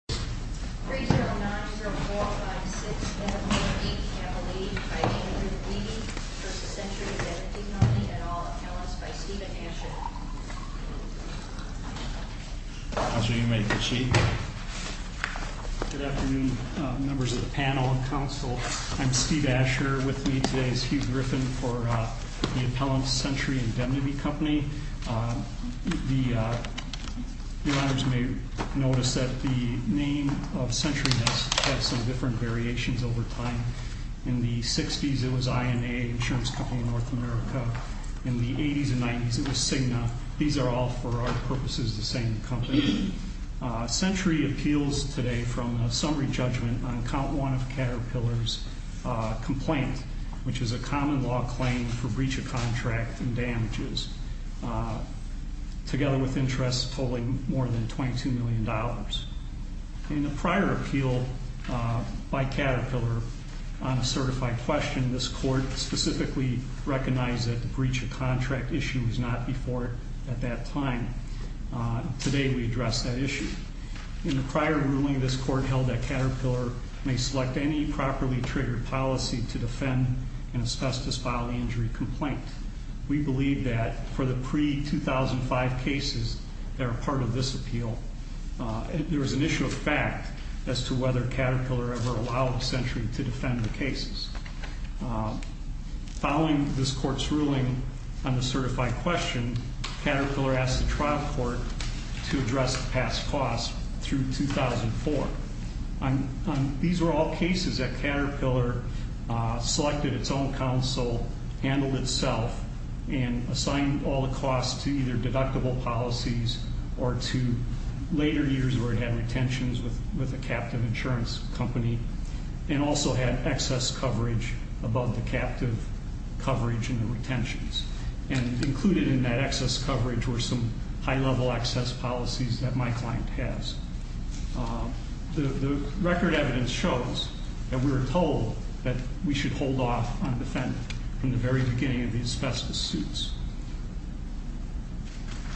3090456488 Cavalier v. Andrew Lee v. Century Indemnity Company and all appellants by Stephen Asher Good afternoon members of the panel and council. I'm Steve Asher. With me today is Hugh Griffin for the Appellants, Century Indemnity Company. You may notice that the name of Century has had some different variations over time. In the 60s it was INA, Insurance Company of North America. In the 80s and 90s it was Cigna. These are all for our purposes the same company. Century appeals today from a summary judgment on count one of Caterpillar's complaint which is a common law claim for breach of contract and damages together with interest totaling more than $22 million. In a prior appeal by Caterpillar on a certified question this court specifically recognized that the breach of contract issue was not before it at that time. Today we address that issue. In the prior ruling this court held that Caterpillar should not defend an asbestos filing injury complaint. We believe that for the pre-2005 cases that are part of this appeal there is an issue of fact as to whether Caterpillar ever allowed Century to defend the cases. Following this court's ruling on the certified question, Caterpillar asked the trial court to address the past costs through 2004. These were all cases that Caterpillar selected its own counsel, handled itself and assigned all the costs to either deductible policies or to later years where it had retentions with a captive insurance company and also had excess coverage above the captive coverage and the very beginning of the asbestos suits.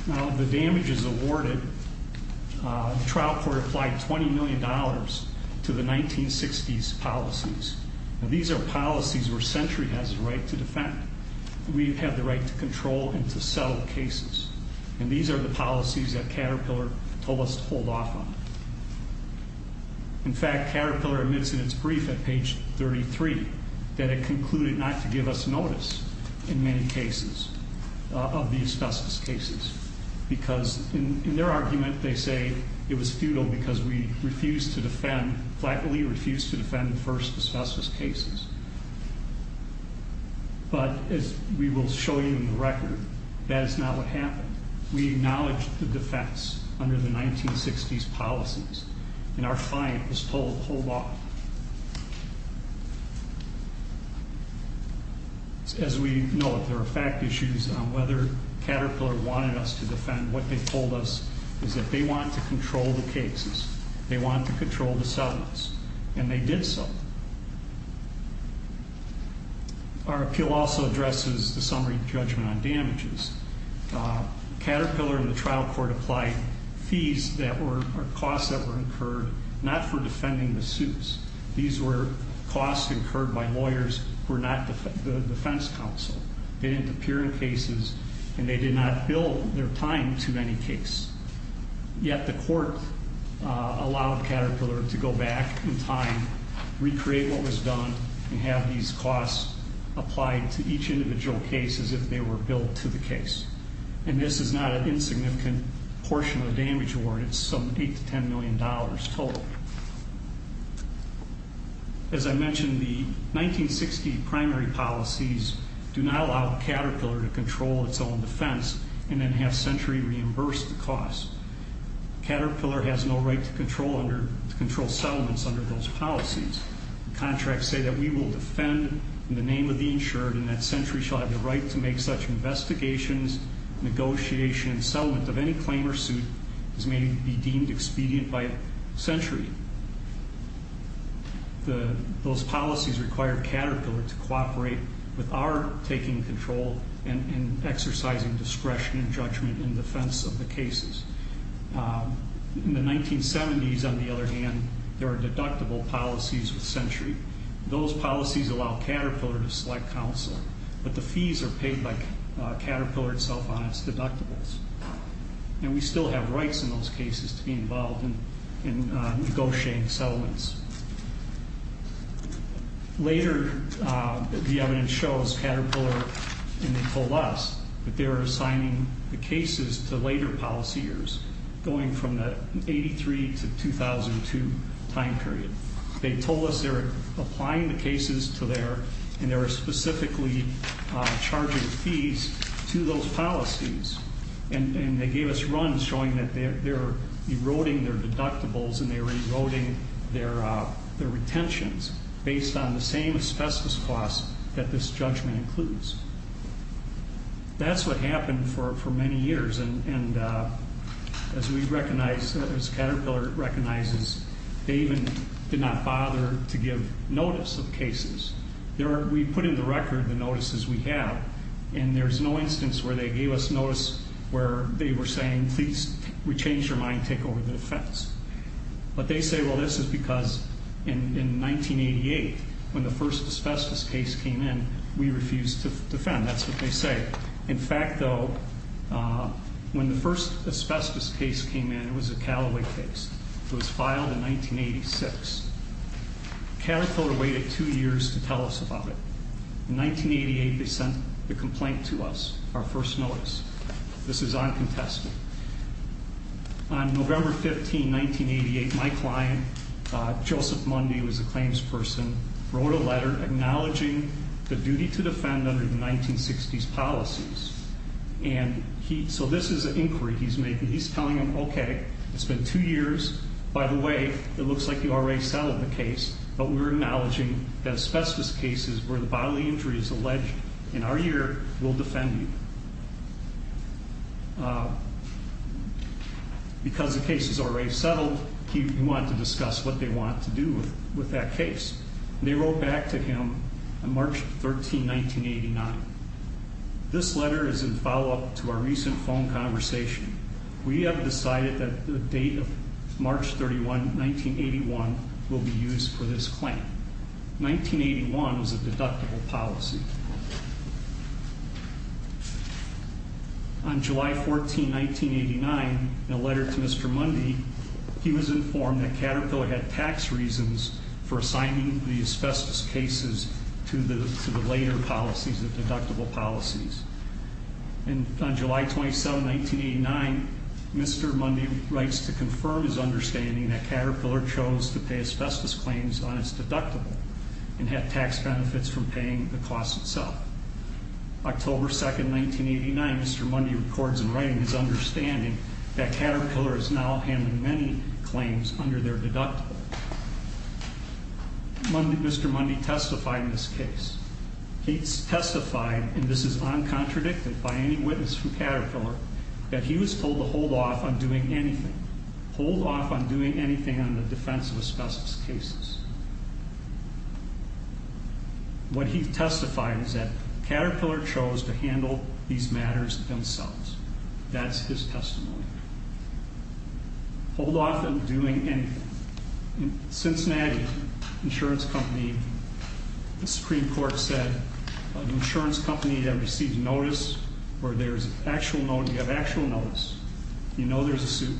Now the damages awarded, the trial court applied $20 million to the 1960s policies. These are policies where Century has the right to defend. We have the right to control and to settle cases. And these are the policies that Caterpillar told us to hold off on. In fact, Caterpillar admits in its brief at page 33 that it concluded not to give us notice in many cases of the asbestos cases because in their argument they say it was futile because we refused to defend, flatly refused to defend the first asbestos cases. But as we will show you in the record, that is not what happened. We acknowledged the defense under the 1960s policies and our client was told to hold off. As we know, there are fact issues on whether Caterpillar wanted us to defend. What they told us is that they want to control the cases. They want to control the settlements. And they did so. Our appeal also addresses the summary judgment on damages. Caterpillar and the trial court applied fees that were, or costs that were incurred not for defending the suits. These were costs incurred by lawyers who were not the defense counsel. They didn't appear in cases and they did not bill their time to any case. Yet the court allowed Caterpillar to go back in time, recreate what was done, and have these costs applied to each individual case as if they were billed to the case. And this is not an insignificant portion of the damage award. It's some $8 to $10 million total. As I mentioned, the 1960 primary policies do not allow Caterpillar to control its own defense and then have Century reimburse the costs. Caterpillar has no right to control settlements under those policies. Contracts say that we will defend in the name of the insured and that Century shall have the right to make such investigations, negotiation, and settlement of any claim or suit as may be deemed expedient by Century. Those policies require Caterpillar to cooperate with our taking control and exercising discretion and judgment in defense of the cases. In the 1970s, on the other hand, there were deductible policies with Century. Those policies allow Caterpillar to select counsel, but the fees are paid by Caterpillar itself on its deductibles. And we still have rights in those cases to be involved in negotiating settlements. Later, the evidence shows Caterpillar, and they told us, that they were assigning the cases to later policy years, going from the 83 to 2002 time period. They told us they were applying the cases to their, and they were specifically charging fees to those policies. And they gave us runs showing that they were eroding their deductibles and they were eroding their retentions based on the same asbestos costs that this judgment includes. That's what happened for many years and as we recognize, as Caterpillar recognizes, they even did not bother to give notice of cases. We put in the record the notices we have, and there's no instance where they gave us notice where they were saying, please, we change your mind, take over the defense. But they say, well, this is because in 1988, when the first asbestos case came in, we refused to defend. That's what they say. In fact, though, when the first asbestos case came in, it was a Callaway case. It was filed in 1986. Caterpillar waited two years to tell us about it. In 1988, they sent the complaint to us, our first notice. This is uncontested. On November 15, 1988, my client, Joseph Mundy, who was a claims person, wrote a letter acknowledging the duty to defend under the 1960s policies. And so this is an inquiry he's making. He's telling them, okay, it's been two years. By the way, it looks like you already settled the case, but we're acknowledging that asbestos cases where the bodily injury is alleged in our year will defend you. Because the case is already settled, he wanted to discuss what they want to do with that case. They wrote back to him on March 13, 1989. This letter is in follow-up to our recent phone conversation. We have decided that the date of March 31, 1981, will be used for this claim. 1981 was a deductible policy. On July 14, 1989, in a letter to Mr. Mundy, he was informed that Caterpillar had tax reasons for assigning the asbestos cases to the later policies, the deductible policies. And on July 27, 1989, Mr. Mundy writes to confirm his understanding that Caterpillar chose to pay asbestos claims on its deductible and had tax benefits from paying the cost itself. October 2, 1989, Mr. Mundy records in writing his understanding that Caterpillar is now handling many claims under their deductible. Mr. Mundy testified in this case. He testified, and this is uncontradicted by any witness from Caterpillar, that he was told to hold off on doing anything. Hold off on doing anything on the defense of asbestos cases. What he testified is that Caterpillar chose to handle these matters themselves. That's his testimony. Hold off on doing anything. In Cincinnati, an insurance company, the Supreme Court said, an insurance company that receives notice where there's actual notice, you know there's a suit,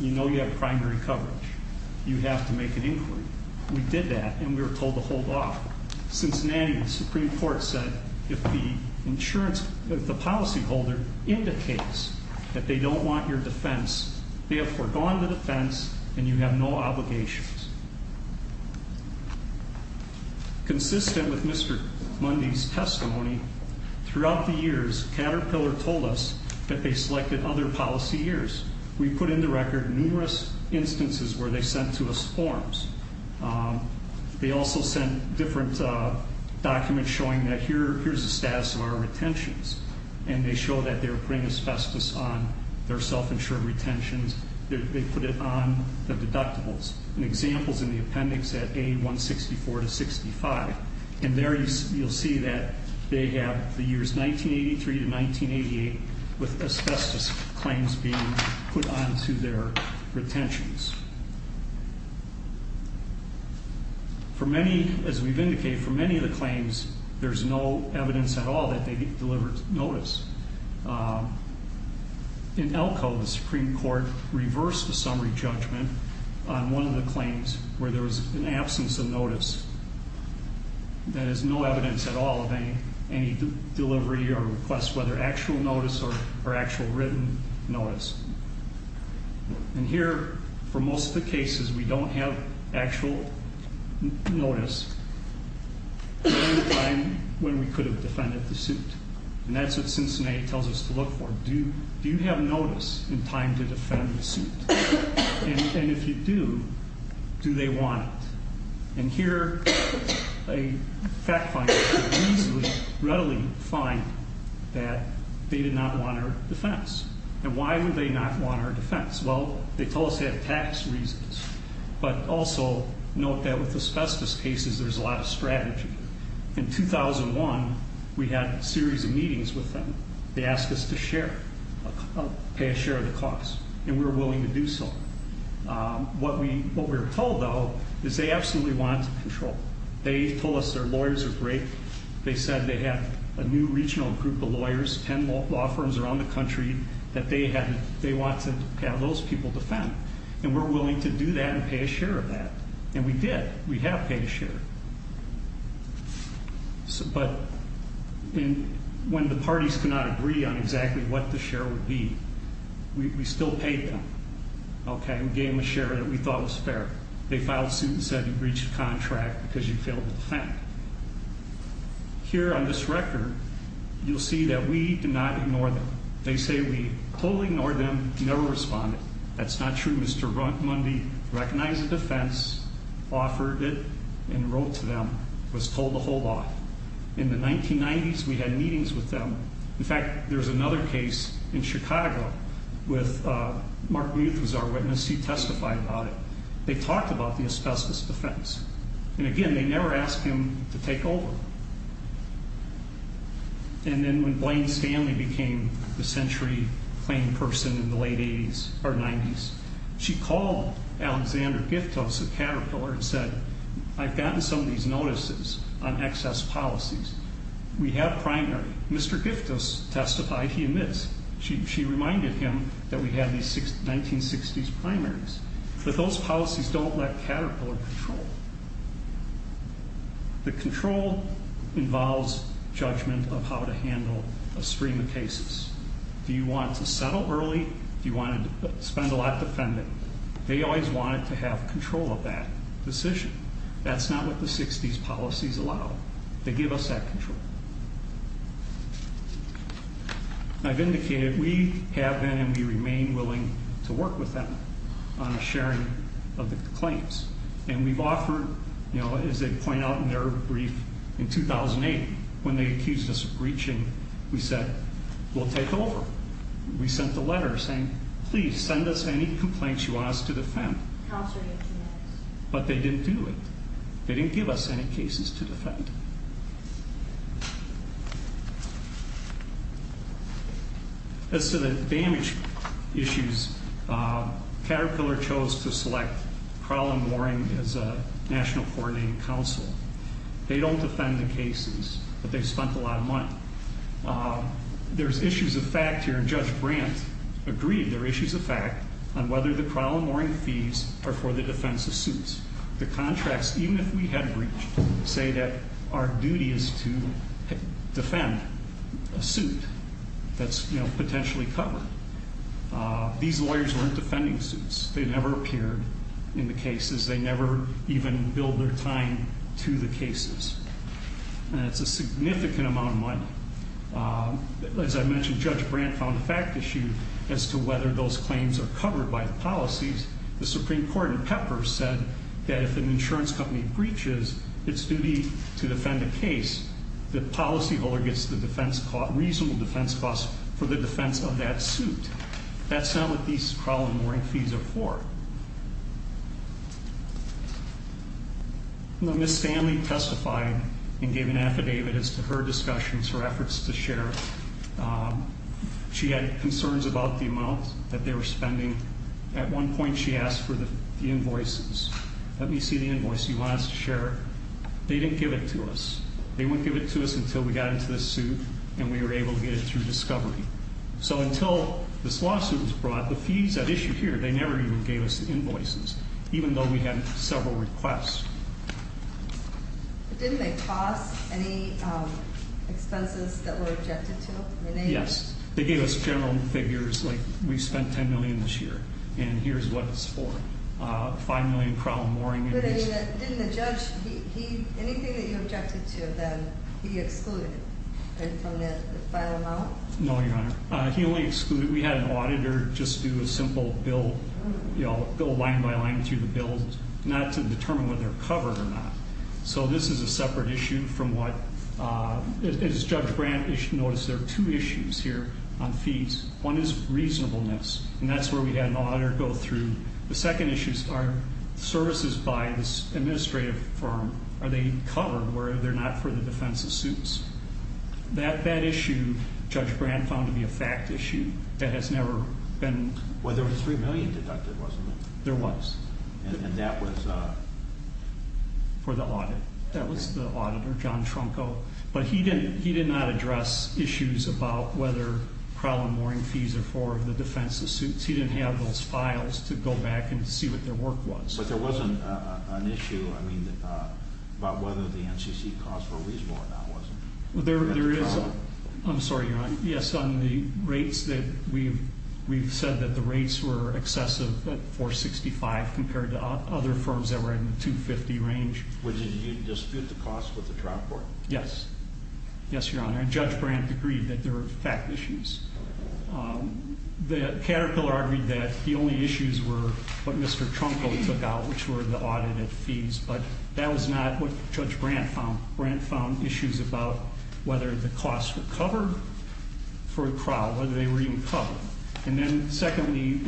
you know you have primary coverage. You have to make an inquiry. We did that, and we were told to hold off. Cincinnati, the Supreme Court said, if the insurance, if the policyholder indicates that they don't want your defense, they have foregone the defense, and you have no obligations. Consistent with Mr. Mundy's testimony, throughout the years, Caterpillar told us that they selected other policy years. We put into record numerous instances where they sent to us forms. They also sent different documents showing that here's the status of our retentions, and they show that they're putting asbestos on their self-insured retentions. They put it on the deductibles. An example's in the appendix at A164 to 65, and there you'll see that they have the years 1983 to 1988 with asbestos claims being put onto their retentions. For many, as we've indicated, for many of the claims, there's no evidence at all that they delivered notice. In Elko, the Supreme Court reversed the summary judgment on one of the claims where there was an absence of notice. That is no evidence at all of any delivery or request, whether actual notice or actual written notice. And here, for most of the cases, we don't have actual notice at any time when we could have defended the suit, and that's what Cincinnati tells us to look for. Do you have notice in time to defend the suit? And if you do, do they want it? And here, a fact finder could easily, readily find that they did not want our defense. And why would they not want our defense? Well, they told us they have tax reasons, but also note that with asbestos cases, there's a lot of strategy. In 2001, we had a series of meetings with them. They asked us to share, pay a share of the cost, and we were willing to do so. What we were told, though, is they absolutely wanted to control. They told us their lawyers are great. They said they have a new regional group of lawyers, 10 law firms around the country, that they want to have those people defend. And we're willing to do that and pay a share of that. And we did. We have paid a share. But when the parties could not agree on exactly what the share would be, we still paid them, okay? We gave them a share that we thought was fair. They filed a suit and said you breached the contract because you failed to defend. Here on this record, you'll see that we did not ignore them. They say we totally ignored them, never responded. That's not true. Mr. Mundy recognized the defense, offered it, and wrote to them, was told to hold off. In the 1990s, we had meetings with them. In fact, there's another case in Chicago with Mark Muth was our witness. He testified about it. They talked about the asbestos defense. And again, they never asked him to take over. And then when Blaine Stanley became the century claim person in the late 80s or 90s, she called Alexander Giftos of Caterpillar and said, I've gotten some of these notices on excess policies. We have a primary. Mr. Giftos testified he admits. She reminded him that we had these 1960s primaries. But those policies don't let Caterpillar control. The control involves judgment of how to handle a stream of cases. Do you want to settle early? Do you want to spend a lot defending? They always wanted to have control of that decision. That's not what the 60s policies allow. They give us that control. I've indicated we have been and we remain willing to work with them on a sharing of the claims. And we've offered, you know, as they point out in their brief in 2008, when they accused us of breaching, we said, we'll take over. We sent the letter saying, please send us any complaints you want us to defend. But they didn't do it. They didn't give us any cases to defend. As to the damage issues, Caterpillar chose to select Crowell & Waring as a national coordinating council. They don't defend the cases, but they've spent a lot of money. There's issues of fact here. Judge Brandt agreed there are issues of fact on whether the Crowell & Waring fees are for the defense of suits. The contracts, even if we had breached, say that our duty is to defend a suit that's potentially covered. These lawyers weren't defending suits. They never appeared in the cases. They never even billed their time to the cases. And it's a significant amount of money. As I mentioned, Judge Brandt found a fact issue as to whether those claims are covered by the policies. The Supreme Court in Pepper said that if an insurance company breaches its duty to defend a case, the policyholder gets the reasonable defense costs for the defense of that suit. That's not what these Crowell & Waring fees are for. Ms. Stanley testified and gave an affidavit as to her discussions, her efforts to share. She had concerns about the amount that they were spending. At one point, she asked for the invoices. Let me see the invoice. You want us to share it? They didn't give it to us. They wouldn't give it to us until we got into this suit and we were able to get it through discovery. So until this lawsuit was brought, the fees at issue here, they never even gave us the invoices, even though we had several requests. Didn't they cost any expenses that were objected to? Yes. They gave us general figures, like we spent $10 million this year, and here's what it's for. $5 million in Crowell & Waring invoices. But didn't the judge, anything that you objected to then, he excluded it from the final amount? No, Your Honor. He only excluded, we had an auditor just do a simple bill, you know, go line by line through the bills, not to determine whether they're covered or not. So this is a separate issue from what, as Judge Brandt, you should notice there are two issues here on fees. One is reasonableness, and that's where we had an auditor go through. The second issue is, are services by this administrative firm, are they covered, whether or not they're for the defense of suits? That issue, Judge Brandt found to be a fact issue that has never been... Well, there was $3 million deducted, wasn't there? There was. And that was... For the audit. That was the auditor, John Tronco. But he did not address issues about whether Crowell & Waring fees are for the defense of suits. He didn't have those files to go back and see what their work was. But there wasn't an issue, I mean, about whether the NCC costs were reasonable or not, was there? There is. I'm sorry, Your Honor. Yes, on the rates that we've said that the rates were excessive at $465 compared to other firms that were in the $250 range. Would you dispute the cost with the trial court? Yes. Yes, Your Honor. And Judge Brandt agreed that there were fact issues. The caterer argued that the only issues were what Mr. Tronco took out, which were the audited fees. But that was not what Judge Brandt found. Brandt found issues about whether the costs were covered for Crowell, whether they were even covered. And then, secondly,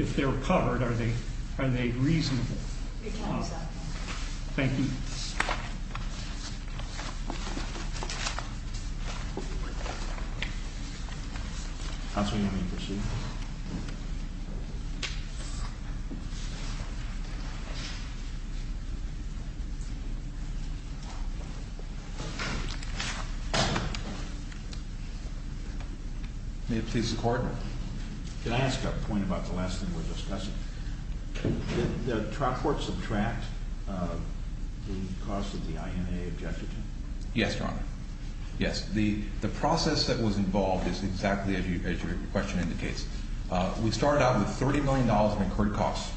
if they were covered, are they reasonable? Your time is up, Your Honor. Thank you. Counsel, you may proceed. May it please the Court, can I ask a point about the last thing we're discussing? Did the trial court subtract the cost that the INA objected to? Yes, Your Honor. Yes. The process that was involved is exactly as your question indicates. We started out with $30 million in incurred costs,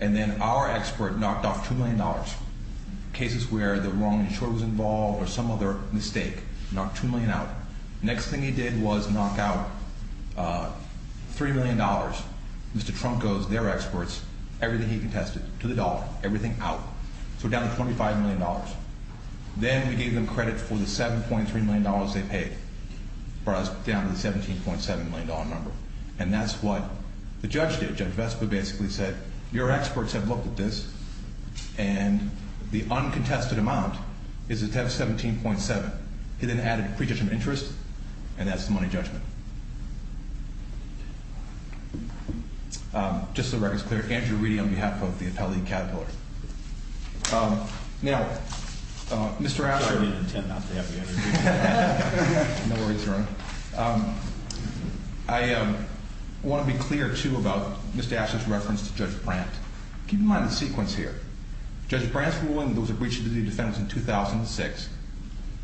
and then our expert knocked off $2 million. Cases where the wrong insurer was involved or some other mistake, knocked $2 million out. Next thing he did was knock out $3 million, Mr. Tronco's, their experts, everything he contested, to the dollar, everything out. So down to $25 million. Then we gave them credit for the $7.3 million they paid, brought us down to the $17.7 million number. And that's what the judge did. Judge Vespa basically said, your experts have looked at this, and the uncontested amount is $17.7. He then added a pre-judgment interest, and that's the money judgment. Just so the record is clear, Andrew Reedy on behalf of the appellate category. Now, Mr. Asher. I didn't intend not to have you introduce me. No worries, Your Honor. I want to be clear, too, about Mr. Asher's reference to Judge Brandt. Keep in mind the sequence here. Judge Brandt's ruling was a breach of the defense in 2006.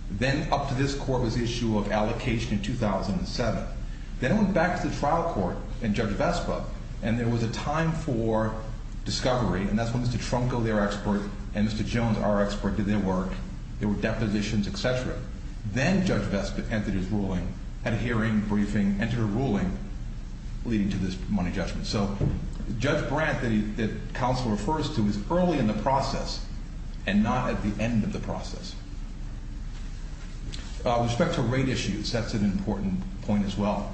Then up to this court was the issue of allocation in 2007. Then it went back to the trial court and Judge Vespa, and there was a time for discovery. And that's when Mr. Tronco, their expert, and Mr. Jones, our expert, did their work. There were depositions, et cetera. Then Judge Vespa entered his ruling, had a hearing, briefing, entered a ruling leading to this money judgment. So Judge Brandt that counsel refers to is early in the process and not at the end of the process. With respect to rate issues, that's an important point as well.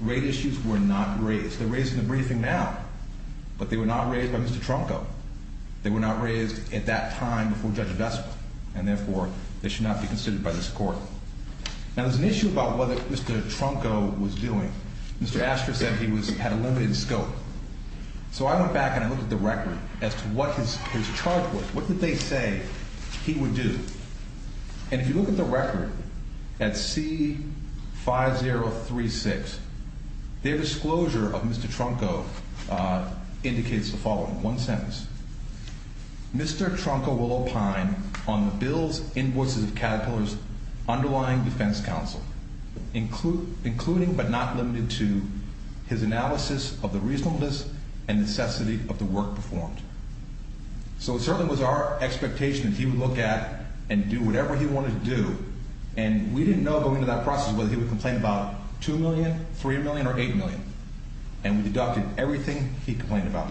Rate issues were not raised. They're raised in the briefing now, but they were not raised by Mr. Tronco. They were not raised at that time before Judge Vespa, and therefore they should not be considered by this court. Now, there's an issue about what Mr. Tronco was doing. Mr. Astor said he had a limited scope. So I went back and I looked at the record as to what his charge was. What did they say he would do? And if you look at the record at C5036, their disclosure of Mr. Tronco indicates the following. One sentence. Mr. Tronco will opine on the bill's invoices of Caterpillar's underlying defense counsel, including but not limited to his analysis of the reasonableness and necessity of the work performed. So it certainly was our expectation that he would look at and do whatever he wanted to do, and we didn't know going into that process whether he would complain about $2 million, $3 million, or $8 million. And we deducted everything he complained about.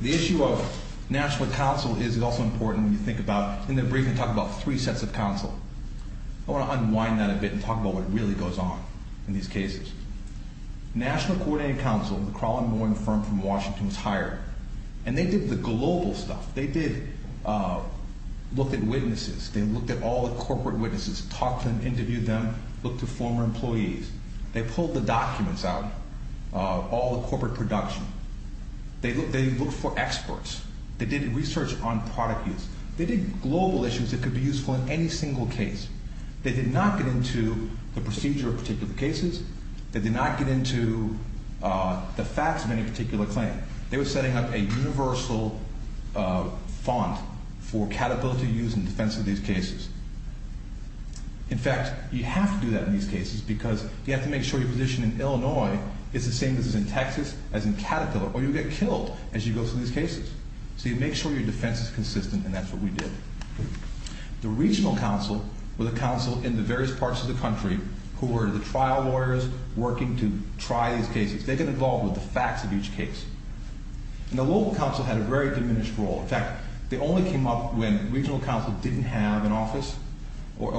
The issue of national counsel is also important when you think about, in the briefing, talk about three sets of counsel. I want to unwind that a bit and talk about what really goes on in these cases. National Coordinated Counsel, the Crawling Mowing firm from Washington, was hired, and they did the global stuff. They did look at witnesses. They looked at all the corporate witnesses, talked to them, interviewed them, looked at former employees. They pulled the documents out of all the corporate production. They looked for experts. They did research on product use. They did global issues that could be useful in any single case. They did not get into the procedure of particular cases. They did not get into the facts of any particular claim. They were setting up a universal font for Caterpillar to use in defense of these cases. In fact, you have to do that in these cases because you have to make sure your position in Illinois is the same as it is in Texas, as in Caterpillar, or you'll get killed as you go through these cases. So you make sure your defense is consistent, and that's what we did. The regional counsel were the counsel in the various parts of the country who were the trial lawyers working to try these cases. They got involved with the facts of each case. And the local counsel had a very diminished role. In fact, they only came up when regional counsel didn't have an office or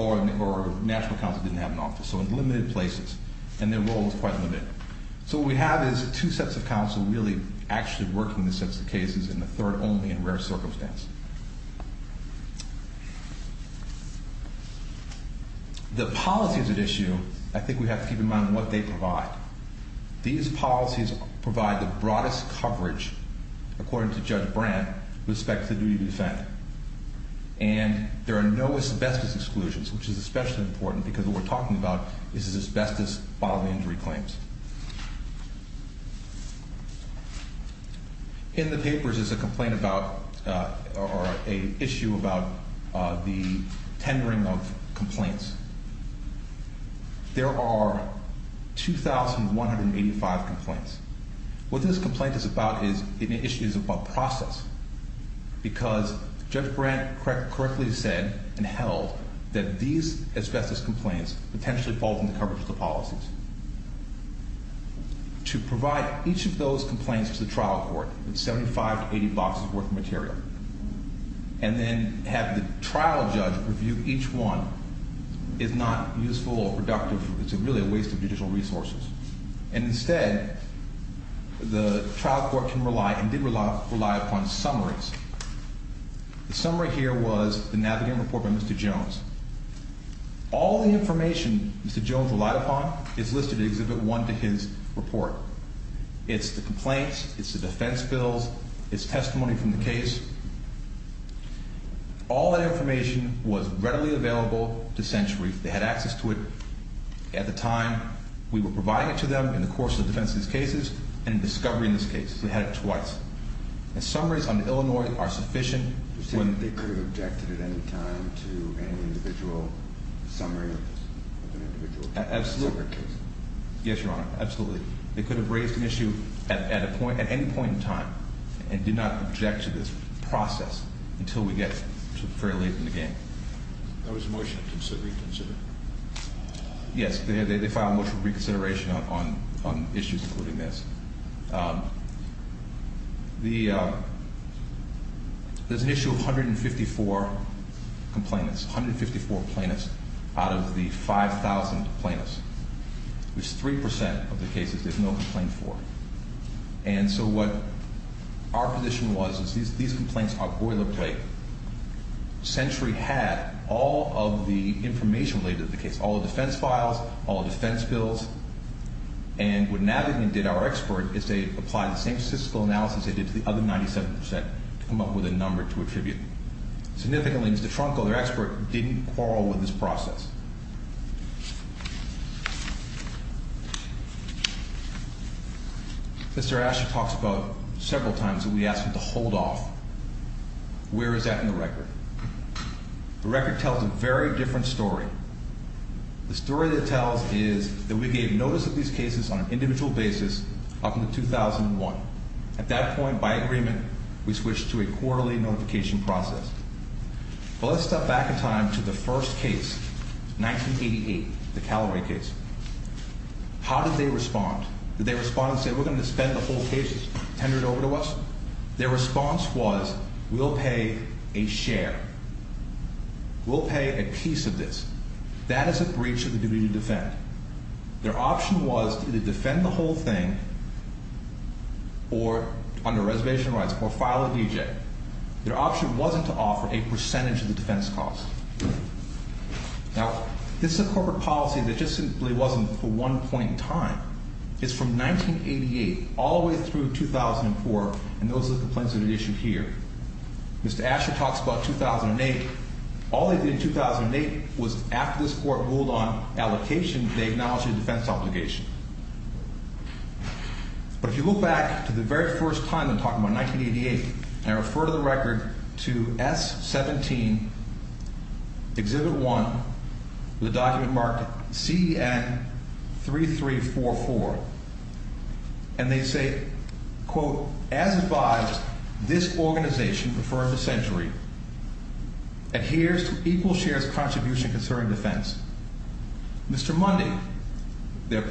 national counsel didn't have an office, so in limited places. And their role was quite limited. So what we have is two sets of counsel really actually working the sets of cases, and the third only in rare circumstances. The policies at issue, I think we have to keep in mind what they provide. These policies provide the broadest coverage, according to Judge Brandt, with respect to the duty to defend. And there are no asbestos exclusions, which is especially important because what we're talking about is asbestos bodily injury claims. In the papers is a complaint about or an issue about the tendering of complaints. There are 2,185 complaints. What this complaint is about is an issue about process, because Judge Brandt correctly said and held that these asbestos complaints potentially fall from the coverage of the policies. To provide each of those complaints to the trial court, it's 75 to 80 boxes worth of material. And then have the trial judge review each one is not useful or productive. It's really a waste of judicial resources. And instead, the trial court can rely and did rely upon summaries. The summary here was the Navigating Report by Mr. Jones. All the information Mr. Jones relied upon is listed in Exhibit 1 to his report. It's the complaints. It's the defense bills. It's testimony from the case. All that information was readily available to Century. They had access to it at the time we were providing it to them in the course of defense cases and discovery in this case. We had it twice. Summaries on Illinois are sufficient. They could have objected at any time to any individual summary of an individual case? Absolutely. Yes, Your Honor. Absolutely. They could have raised an issue at any point in time and did not object to this process until we get to fairly late in the game. There was a motion to reconsider. Yes. They filed a motion of reconsideration on issues including this. There's an issue of 154 complainants, 154 plaintiffs out of the 5,000 plaintiffs, which is 3% of the cases there's no complaint for. And so what our position was is these complaints are boilerplate. Century had all of the information related to the case, all the defense files, all the defense bills, and what Navigman did, our expert, is they applied the same statistical analysis they did to the other 97% to come up with a number to attribute. Significantly, Mr. Tronco, their expert, didn't quarrel with this process. Mr. Asher talks about several times that we asked him to hold off. Where is that in the record? The record tells a very different story. The story that tells is that we gave notice of these cases on an individual basis up until 2001. At that point, by agreement, we switched to a quarterly notification process. But let's step back in time to the first case, 1988, the Calloway case. How did they respond? Did they respond and say, we're going to spend the whole case, tender it over to us? Their response was, we'll pay a share. We'll pay a piece of this. That is a breach of the duty to defend. Their option was to either defend the whole thing or, under reservation rights, file a DJ. Their option wasn't to offer a percentage of the defense cost. Now, this is a corporate policy that just simply wasn't for one point in time. It's from 1988 all the way through 2004, and those are the complaints that are issued here. Mr. Asher talks about 2008. All they did in 2008 was, after this court ruled on allocation, they acknowledged a defense obligation. But if you look back to the very first time, I'm talking about 1988, and I refer to the record to S17, Exhibit 1, with a document marked CN3344, and they say, quote, as advised, this organization, referred to Century, adheres to equal shares contribution concerning defense. Mr. Mundy, the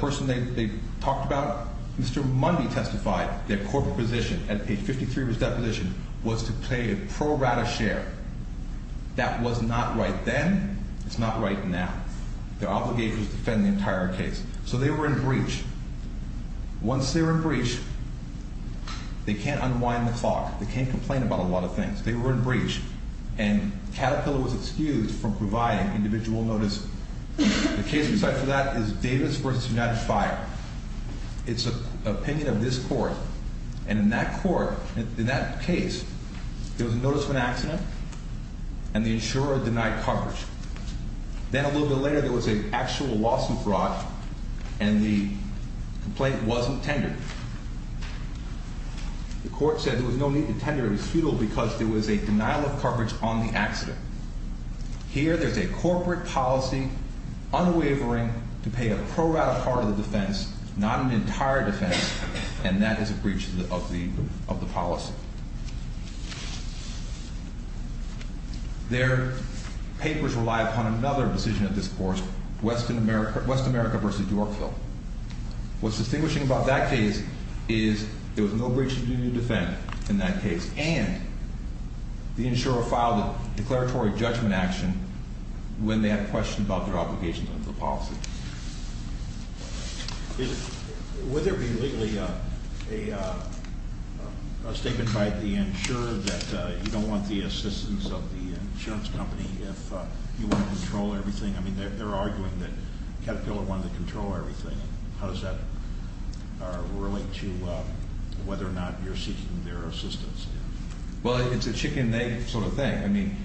person they talked about, Mr. Mundy testified their corporate position at page 53 of his deposition was to pay a pro rata share. That was not right then. It's not right now. Their obligation is to defend the entire case. So they were in breach. Once they were in breach, they can't unwind the clock. They can't complain about a lot of things. They were in breach, and Caterpillar was excused from providing individual notice. The case besides that is Davis v. United Fire. It's an opinion of this court, and in that court, in that case, there was a notice of an accident, and the insurer denied coverage. Then a little bit later, there was an actual lawsuit brought, and the complaint wasn't tendered. The court said there was no need to tender it. It was futile because there was a denial of coverage on the accident. Here there's a corporate policy unwavering to pay a pro rata part of the defense, not an entire defense, and that is a breach of the policy. Their papers rely upon another decision of this court, West America v. Yorkville. What's distinguishing about that case is there was no breach of duty to defend in that case, and the insurer filed a declaratory judgment action when they had questions about their obligations under the policy. Would there be legally a statement by the insurer that you don't want the assistance of the insurance company if you want to control everything? I mean, they're arguing that Caterpillar wanted to control everything. How does that relate to whether or not you're seeking their assistance? Well, it's a chicken and egg sort of thing. I mean,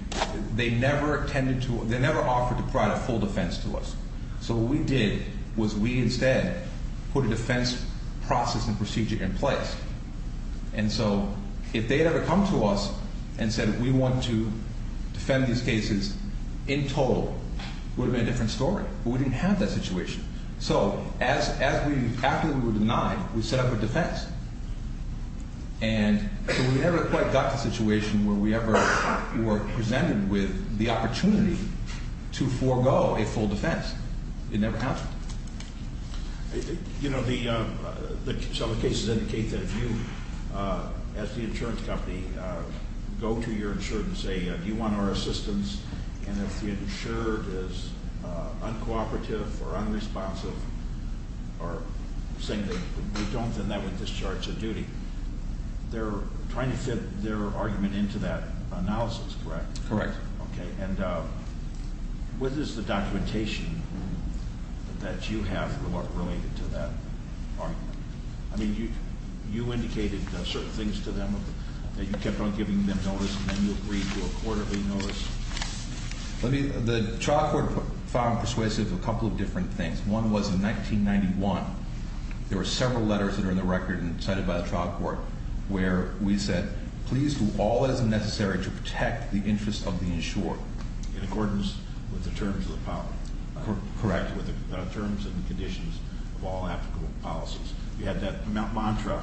they never tended to, they never offered to provide a full defense to us. So what we did was we instead put a defense process and procedure in place. And so if they had ever come to us and said we want to defend these cases in total, it would have been a different story. But we didn't have that situation. So after we were denied, we set up a defense. And so we never quite got to the situation where we ever were presented with the opportunity to forego a full defense. It never happened. You know, some of the cases indicate that if you, as the insurance company, go to your insurer and say do you want our assistance, and if the insurer is uncooperative or unresponsive or saying that we don't, then that would discharge a duty. They're trying to fit their argument into that analysis, correct? Correct. Okay. And what is the documentation that you have related to that argument? I mean, you indicated certain things to them that you kept on giving them notice, and then you agreed to a quarterly notice. Let me, the trial court found persuasive a couple of different things. One was in 1991, there were several letters that are in the record and cited by the trial court where we said please do all that is necessary to protect the interest of the insurer. In accordance with the terms of the power. Correct. In accordance with the terms and conditions of all applicable policies. You had that mantra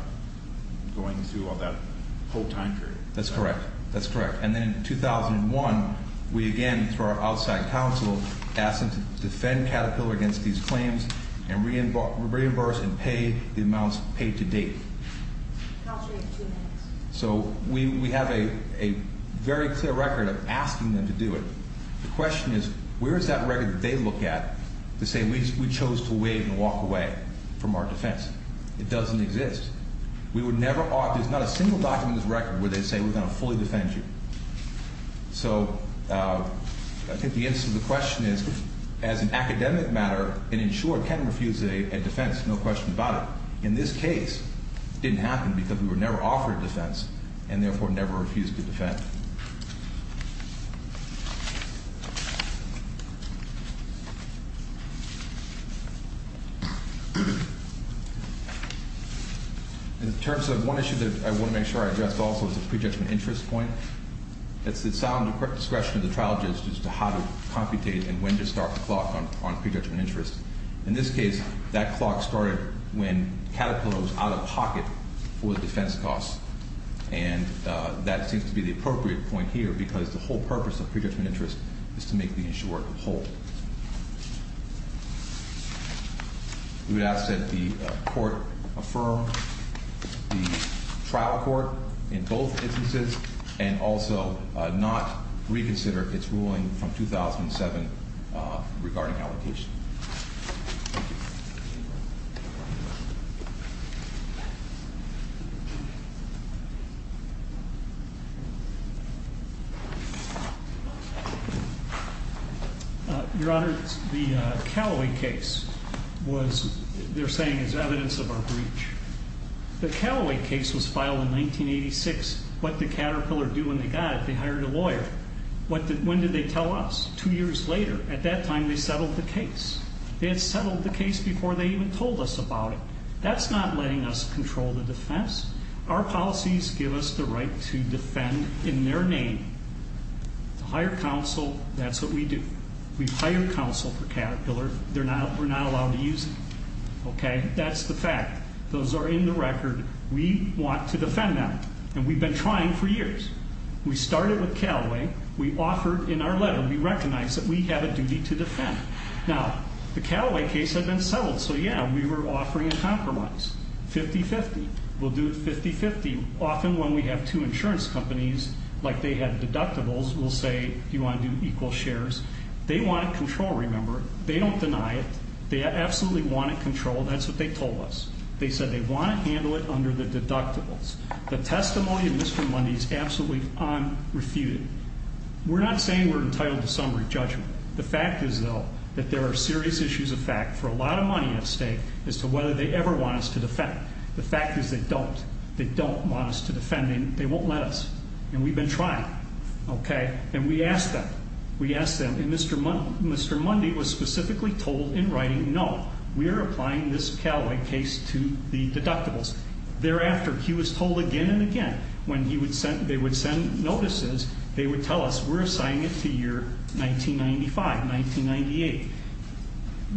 going through all that whole time period. That's correct. That's correct. And then in 2001, we again, through our outside counsel, asked them to defend Caterpillar against these claims and reimburse and pay the amounts paid to date. Counsel, you have two minutes. So we have a very clear record of asking them to do it. The question is, where is that record that they look at to say we chose to waive and walk away from our defense? It doesn't exist. We would never offer, there's not a single document in this record where they say we're going to fully defend you. So I think the answer to the question is, as an academic matter, an insurer can refuse a defense, no question about it. In this case, it didn't happen because we were never offered a defense, and therefore never refused to defend. In terms of one issue that I want to make sure I address also is the pre-judgment interest point. It's the sound discretion of the trial judge as to how to computate and when to start the clock on pre-judgment interest. In this case, that clock started when Caterpillar was out of pocket for the defense costs. And that seems to be the appropriate point here because the whole purpose of pre-judgment interest is to make the insurer whole. We would ask that the court affirm the trial court in both instances and also not reconsider its ruling from 2007 regarding allocation. Your Honor, the Callaway case was, they're saying is evidence of our breach. The Callaway case was filed in 1986. What did Caterpillar do when they got it? They hired a lawyer. When did they tell us? Two years later. At that time, they settled the case. They had settled the case before they even told us about it. That's not letting us control the defense. Our policies give us the right to defend in their name. To hire counsel, that's what we do. We hire counsel for Caterpillar. We're not allowed to use them. Okay? That's the fact. Those are in the record. We want to defend them. And we've been trying for years. We started with Callaway. We offered in our letter. We recognized that we have a duty to defend. Now, the Callaway case had been settled. So, yeah, we were offering a compromise. 50-50. We'll do it 50-50. Often when we have two insurance companies, like they had deductibles, we'll say, You want to do equal shares? They want control, remember. They don't deny it. They absolutely want it controlled. That's what they told us. They said they want to handle it under the deductibles. The testimony of Mr. Mundy is absolutely unrefuted. We're not saying we're entitled to summary judgment. The fact is, though, that there are serious issues of fact for a lot of money at stake as to whether they ever want us to defend. The fact is they don't. They don't want us to defend. They won't let us. And we've been trying. Okay? And we asked them. We asked them. And Mr. Mundy was specifically told in writing, No, we are applying this Callaway case to the deductibles. Thereafter, he was told again and again, when they would send notices, they would tell us, We're assigning it to year 1995, 1998.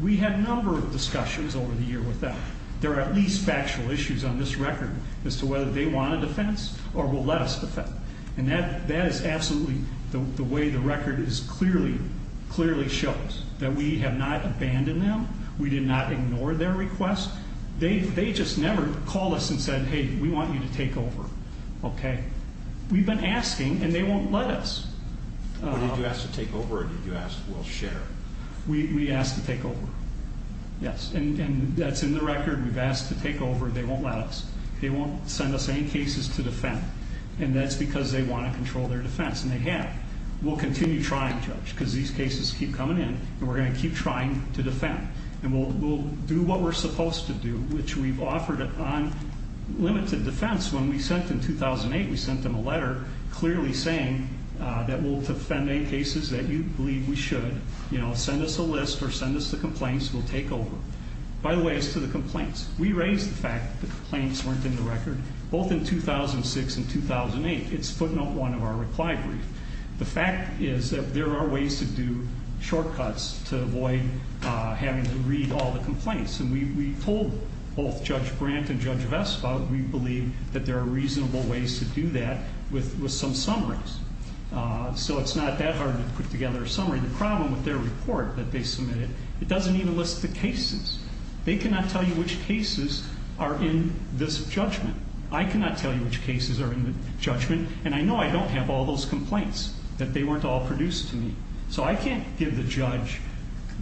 We had a number of discussions over the year with them. There are at least factual issues on this record as to whether they want to defend or will let us defend. And that is absolutely the way the record clearly shows, that we have not abandoned them. We did not ignore their request. They just never called us and said, Hey, we want you to take over. Okay? We've been asking, and they won't let us. Did you ask to take over or did you ask we'll share? We asked to take over. Yes. And that's in the record. We've asked to take over. They won't let us. They won't send us any cases to defend. And that's because they want to control their defense. And they have. We'll continue trying, Judge, because these cases keep coming in, and we're going to keep trying to defend. And we'll do what we're supposed to do, which we've offered on limited defense. When we sent in 2008, we sent them a letter clearly saying that we'll defend any cases that you believe we should. Send us a list or send us the complaints, we'll take over. By the way, as to the complaints, we raised the fact that the complaints weren't in the record, both in 2006 and 2008. It's footnote one of our reply brief. The fact is that there are ways to do shortcuts to avoid having to read all the complaints. And we told both Judge Brandt and Judge Vestal that we believe that there are reasonable ways to do that with some summaries. So it's not that hard to put together a summary. The problem with their report that they submitted, it doesn't even list the cases. They cannot tell you which cases are in this judgment. I cannot tell you which cases are in the judgment. And I know I don't have all those complaints, that they weren't all produced to me. So I can't give the judge,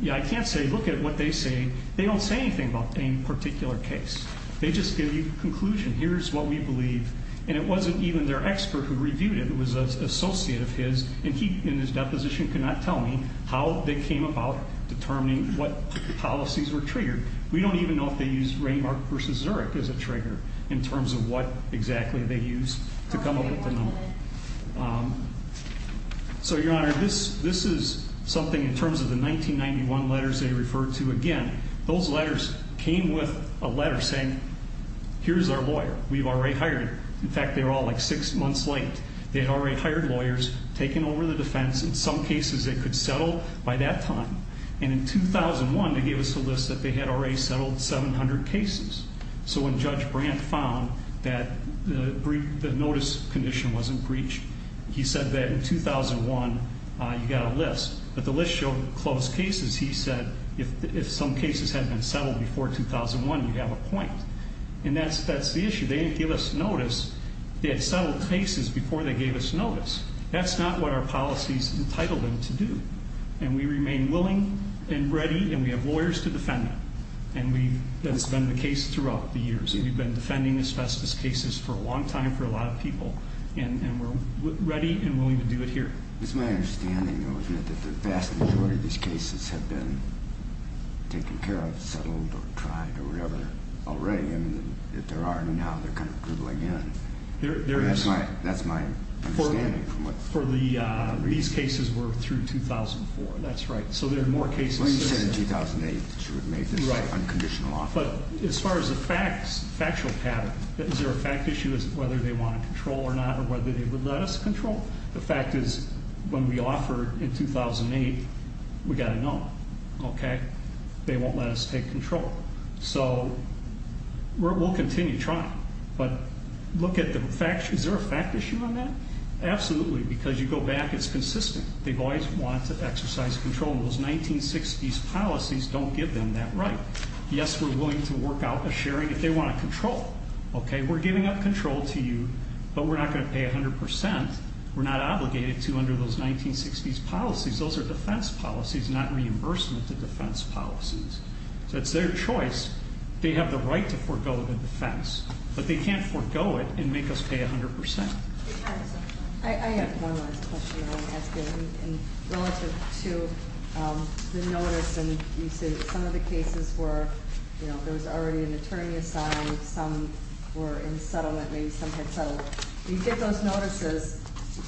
yeah, I can't say look at what they say. They don't say anything about any particular case. They just give you a conclusion. Here's what we believe. And it wasn't even their expert who reviewed it. It was an associate of his, and he, in his deposition, could not tell me how they came about determining what policies were triggered. We don't even know if they used Raymark v. Zurich as a trigger in terms of what exactly they used to come up with the number. So, Your Honor, this is something in terms of the 1991 letters they referred to. Again, those letters came with a letter saying, here's our lawyer. We've already hired him. In fact, they were all like six months late. They had already hired lawyers, taken over the defense. In some cases, they could settle by that time. And in 2001, they gave us a list that they had already settled 700 cases. So when Judge Brandt found that the notice condition wasn't breached, he said that in 2001 you got a list. But the list showed closed cases. He said if some cases hadn't been settled before 2001, you'd have a point. And that's the issue. They didn't give us notice. They had settled cases before they gave us notice. That's not what our policies entitled them to do. And we remain willing and ready, and we have lawyers to defend them. And that's been the case throughout the years. We've been defending asbestos cases for a long time for a lot of people. And we're ready and willing to do it here. It's my understanding, though, isn't it, that the vast majority of these cases have been taken care of, settled, or tried, or whatever, already. And if there aren't now, they're kind of dribbling in. That's my understanding. These cases were through 2004. That's right. So there are more cases. Well, you said in 2008 that you would make this unconditional offer. But as far as the facts, factual pattern, is there a fact issue as to whether they want to control or not or whether they would let us control? The fact is when we offer in 2008, we've got to know. Okay? They won't let us take control. So we'll continue trying. But look at the facts. Is there a fact issue on that? Absolutely. Because you go back, it's consistent. They've always wanted to exercise control. And those 1960s policies don't give them that right. Yes, we're willing to work out a sharing if they want to control. Okay? We're giving up control to you, but we're not going to pay 100%. We're not obligated to under those 1960s policies. Those are defense policies, not reimbursement to defense policies. So it's their choice. They have the right to forego the defense, but they can't forego it and make us pay 100%. I have one last question I want to ask you. Relative to the notice and you said some of the cases were, you know, there was already an attorney assigned. Some were in settlement. Maybe some had settled. When you get those notices,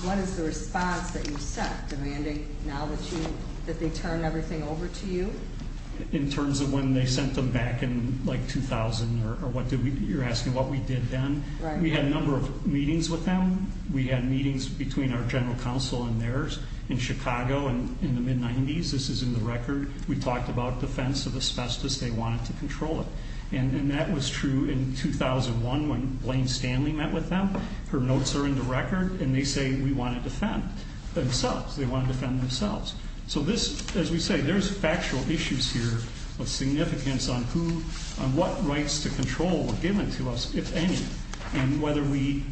what is the response that you set demanding now that they turn everything over to you? In terms of when they sent them back in, like, 2000 or what did we do? You're asking what we did then? Right. We had a number of meetings with them. We had meetings between our general counsel and theirs in Chicago in the mid-'90s. This is in the record. We talked about defense of asbestos. They wanted to control it. And that was true in 2001 when Blaine Stanley met with them. Her notes are in the record, and they say we want to defend themselves. They want to defend themselves. So this, as we say, there's factual issues here of significance on who, on what rights to control were given to us, if any, and whether we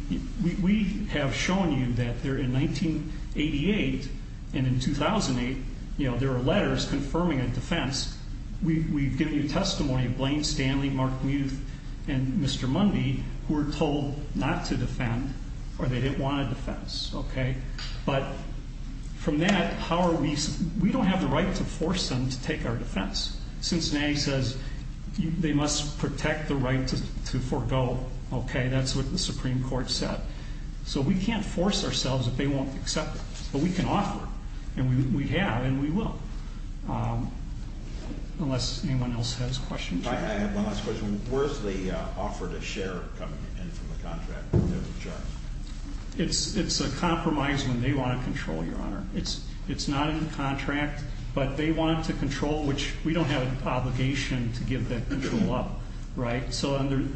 have shown you that there in 1988 and in 2008, you know, there are letters confirming a defense. We've given you testimony of Blaine Stanley, Mark Muth, and Mr. Mundy who were told not to defend or they didn't want a defense, okay? But from that, how are we? We don't have the right to force them to take our defense. Cincinnati says they must protect the right to forego, okay? That's what the Supreme Court said. So we can't force ourselves if they won't accept it. But we can offer, and we have and we will, unless anyone else has questions. I have one last question. Where is the offer to share coming in from the contract? It's a compromise when they want to control, Your Honor. It's not in the contract, but they want to control, which we don't have an obligation to give that control up, right?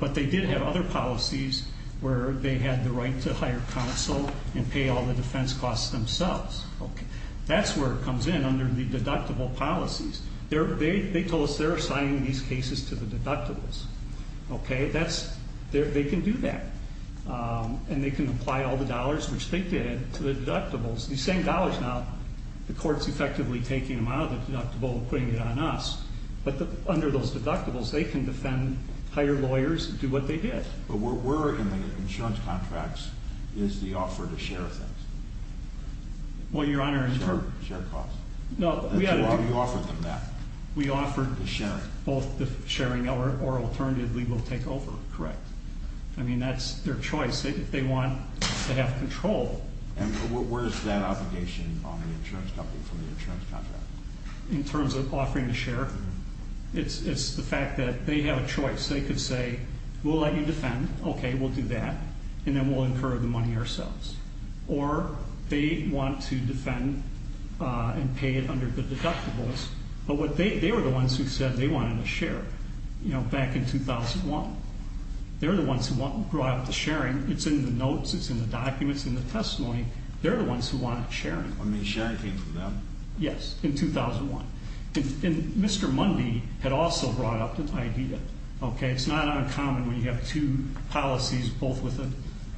But they did have other policies where they had the right to hire counsel and pay all the defense costs themselves. That's where it comes in under the deductible policies. They told us they're assigning these cases to the deductibles, okay? They can do that. And they can apply all the dollars, which they did, to the deductibles. These same dollars now, the court's effectively taking them out of the deductible and putting it on us. But under those deductibles, they can defend, hire lawyers, do what they did. But where we're in the insurance contracts is the offer to share things. Well, Your Honor- Share costs. No, we- That's why we offered them that. We offered- The sharing. Both the sharing or alternatively we'll take over, correct. I mean, that's their choice. If they want to have control- And where is that obligation on the insurance company from the insurance contract? In terms of offering to share? It's the fact that they have a choice. They could say, we'll let you defend. Okay, we'll do that. And then we'll incur the money ourselves. Or they want to defend and pay it under the deductibles. But they were the ones who said they wanted to share. You know, back in 2001. They're the ones who brought up the sharing. It's in the notes, it's in the documents, in the testimony. They're the ones who wanted sharing. I mean, sharing came from them? Yes, in 2001. And Mr. Mundy had also brought up the idea. Okay, it's not uncommon when you have two policies, both with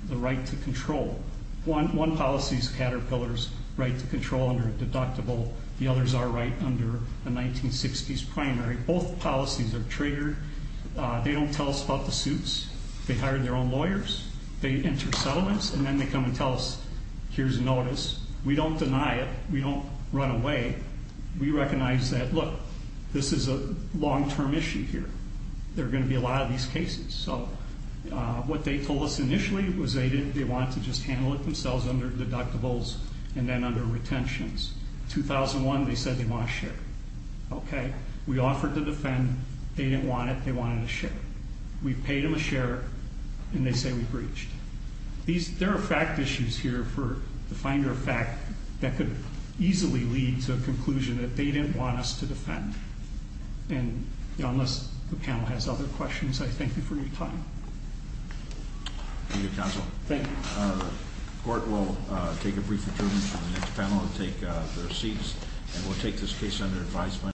the right to control. One policy is Caterpillar's right to control under a deductible. The others are right under the 1960s primary. Both policies are triggered. They don't tell us about the suits. They hire their own lawyers. They enter settlements. And then they come and tell us, here's a notice. We don't deny it. We don't run away. We recognize that, look, this is a long-term issue here. There are going to be a lot of these cases. So what they told us initially was they wanted to just handle it themselves under deductibles and then under retentions. 2001, they said they want to share. Okay. We offered to defend. They didn't want it. They wanted to share. We paid them a share, and they say we breached. There are fact issues here for the finder of fact that could easily lead to a conclusion that they didn't want us to defend. And unless the panel has other questions, I thank you for your time. Thank you, counsel. Thank you. The court will take a brief adjournment for the next panel and take their seats. And we'll take this case under advisement.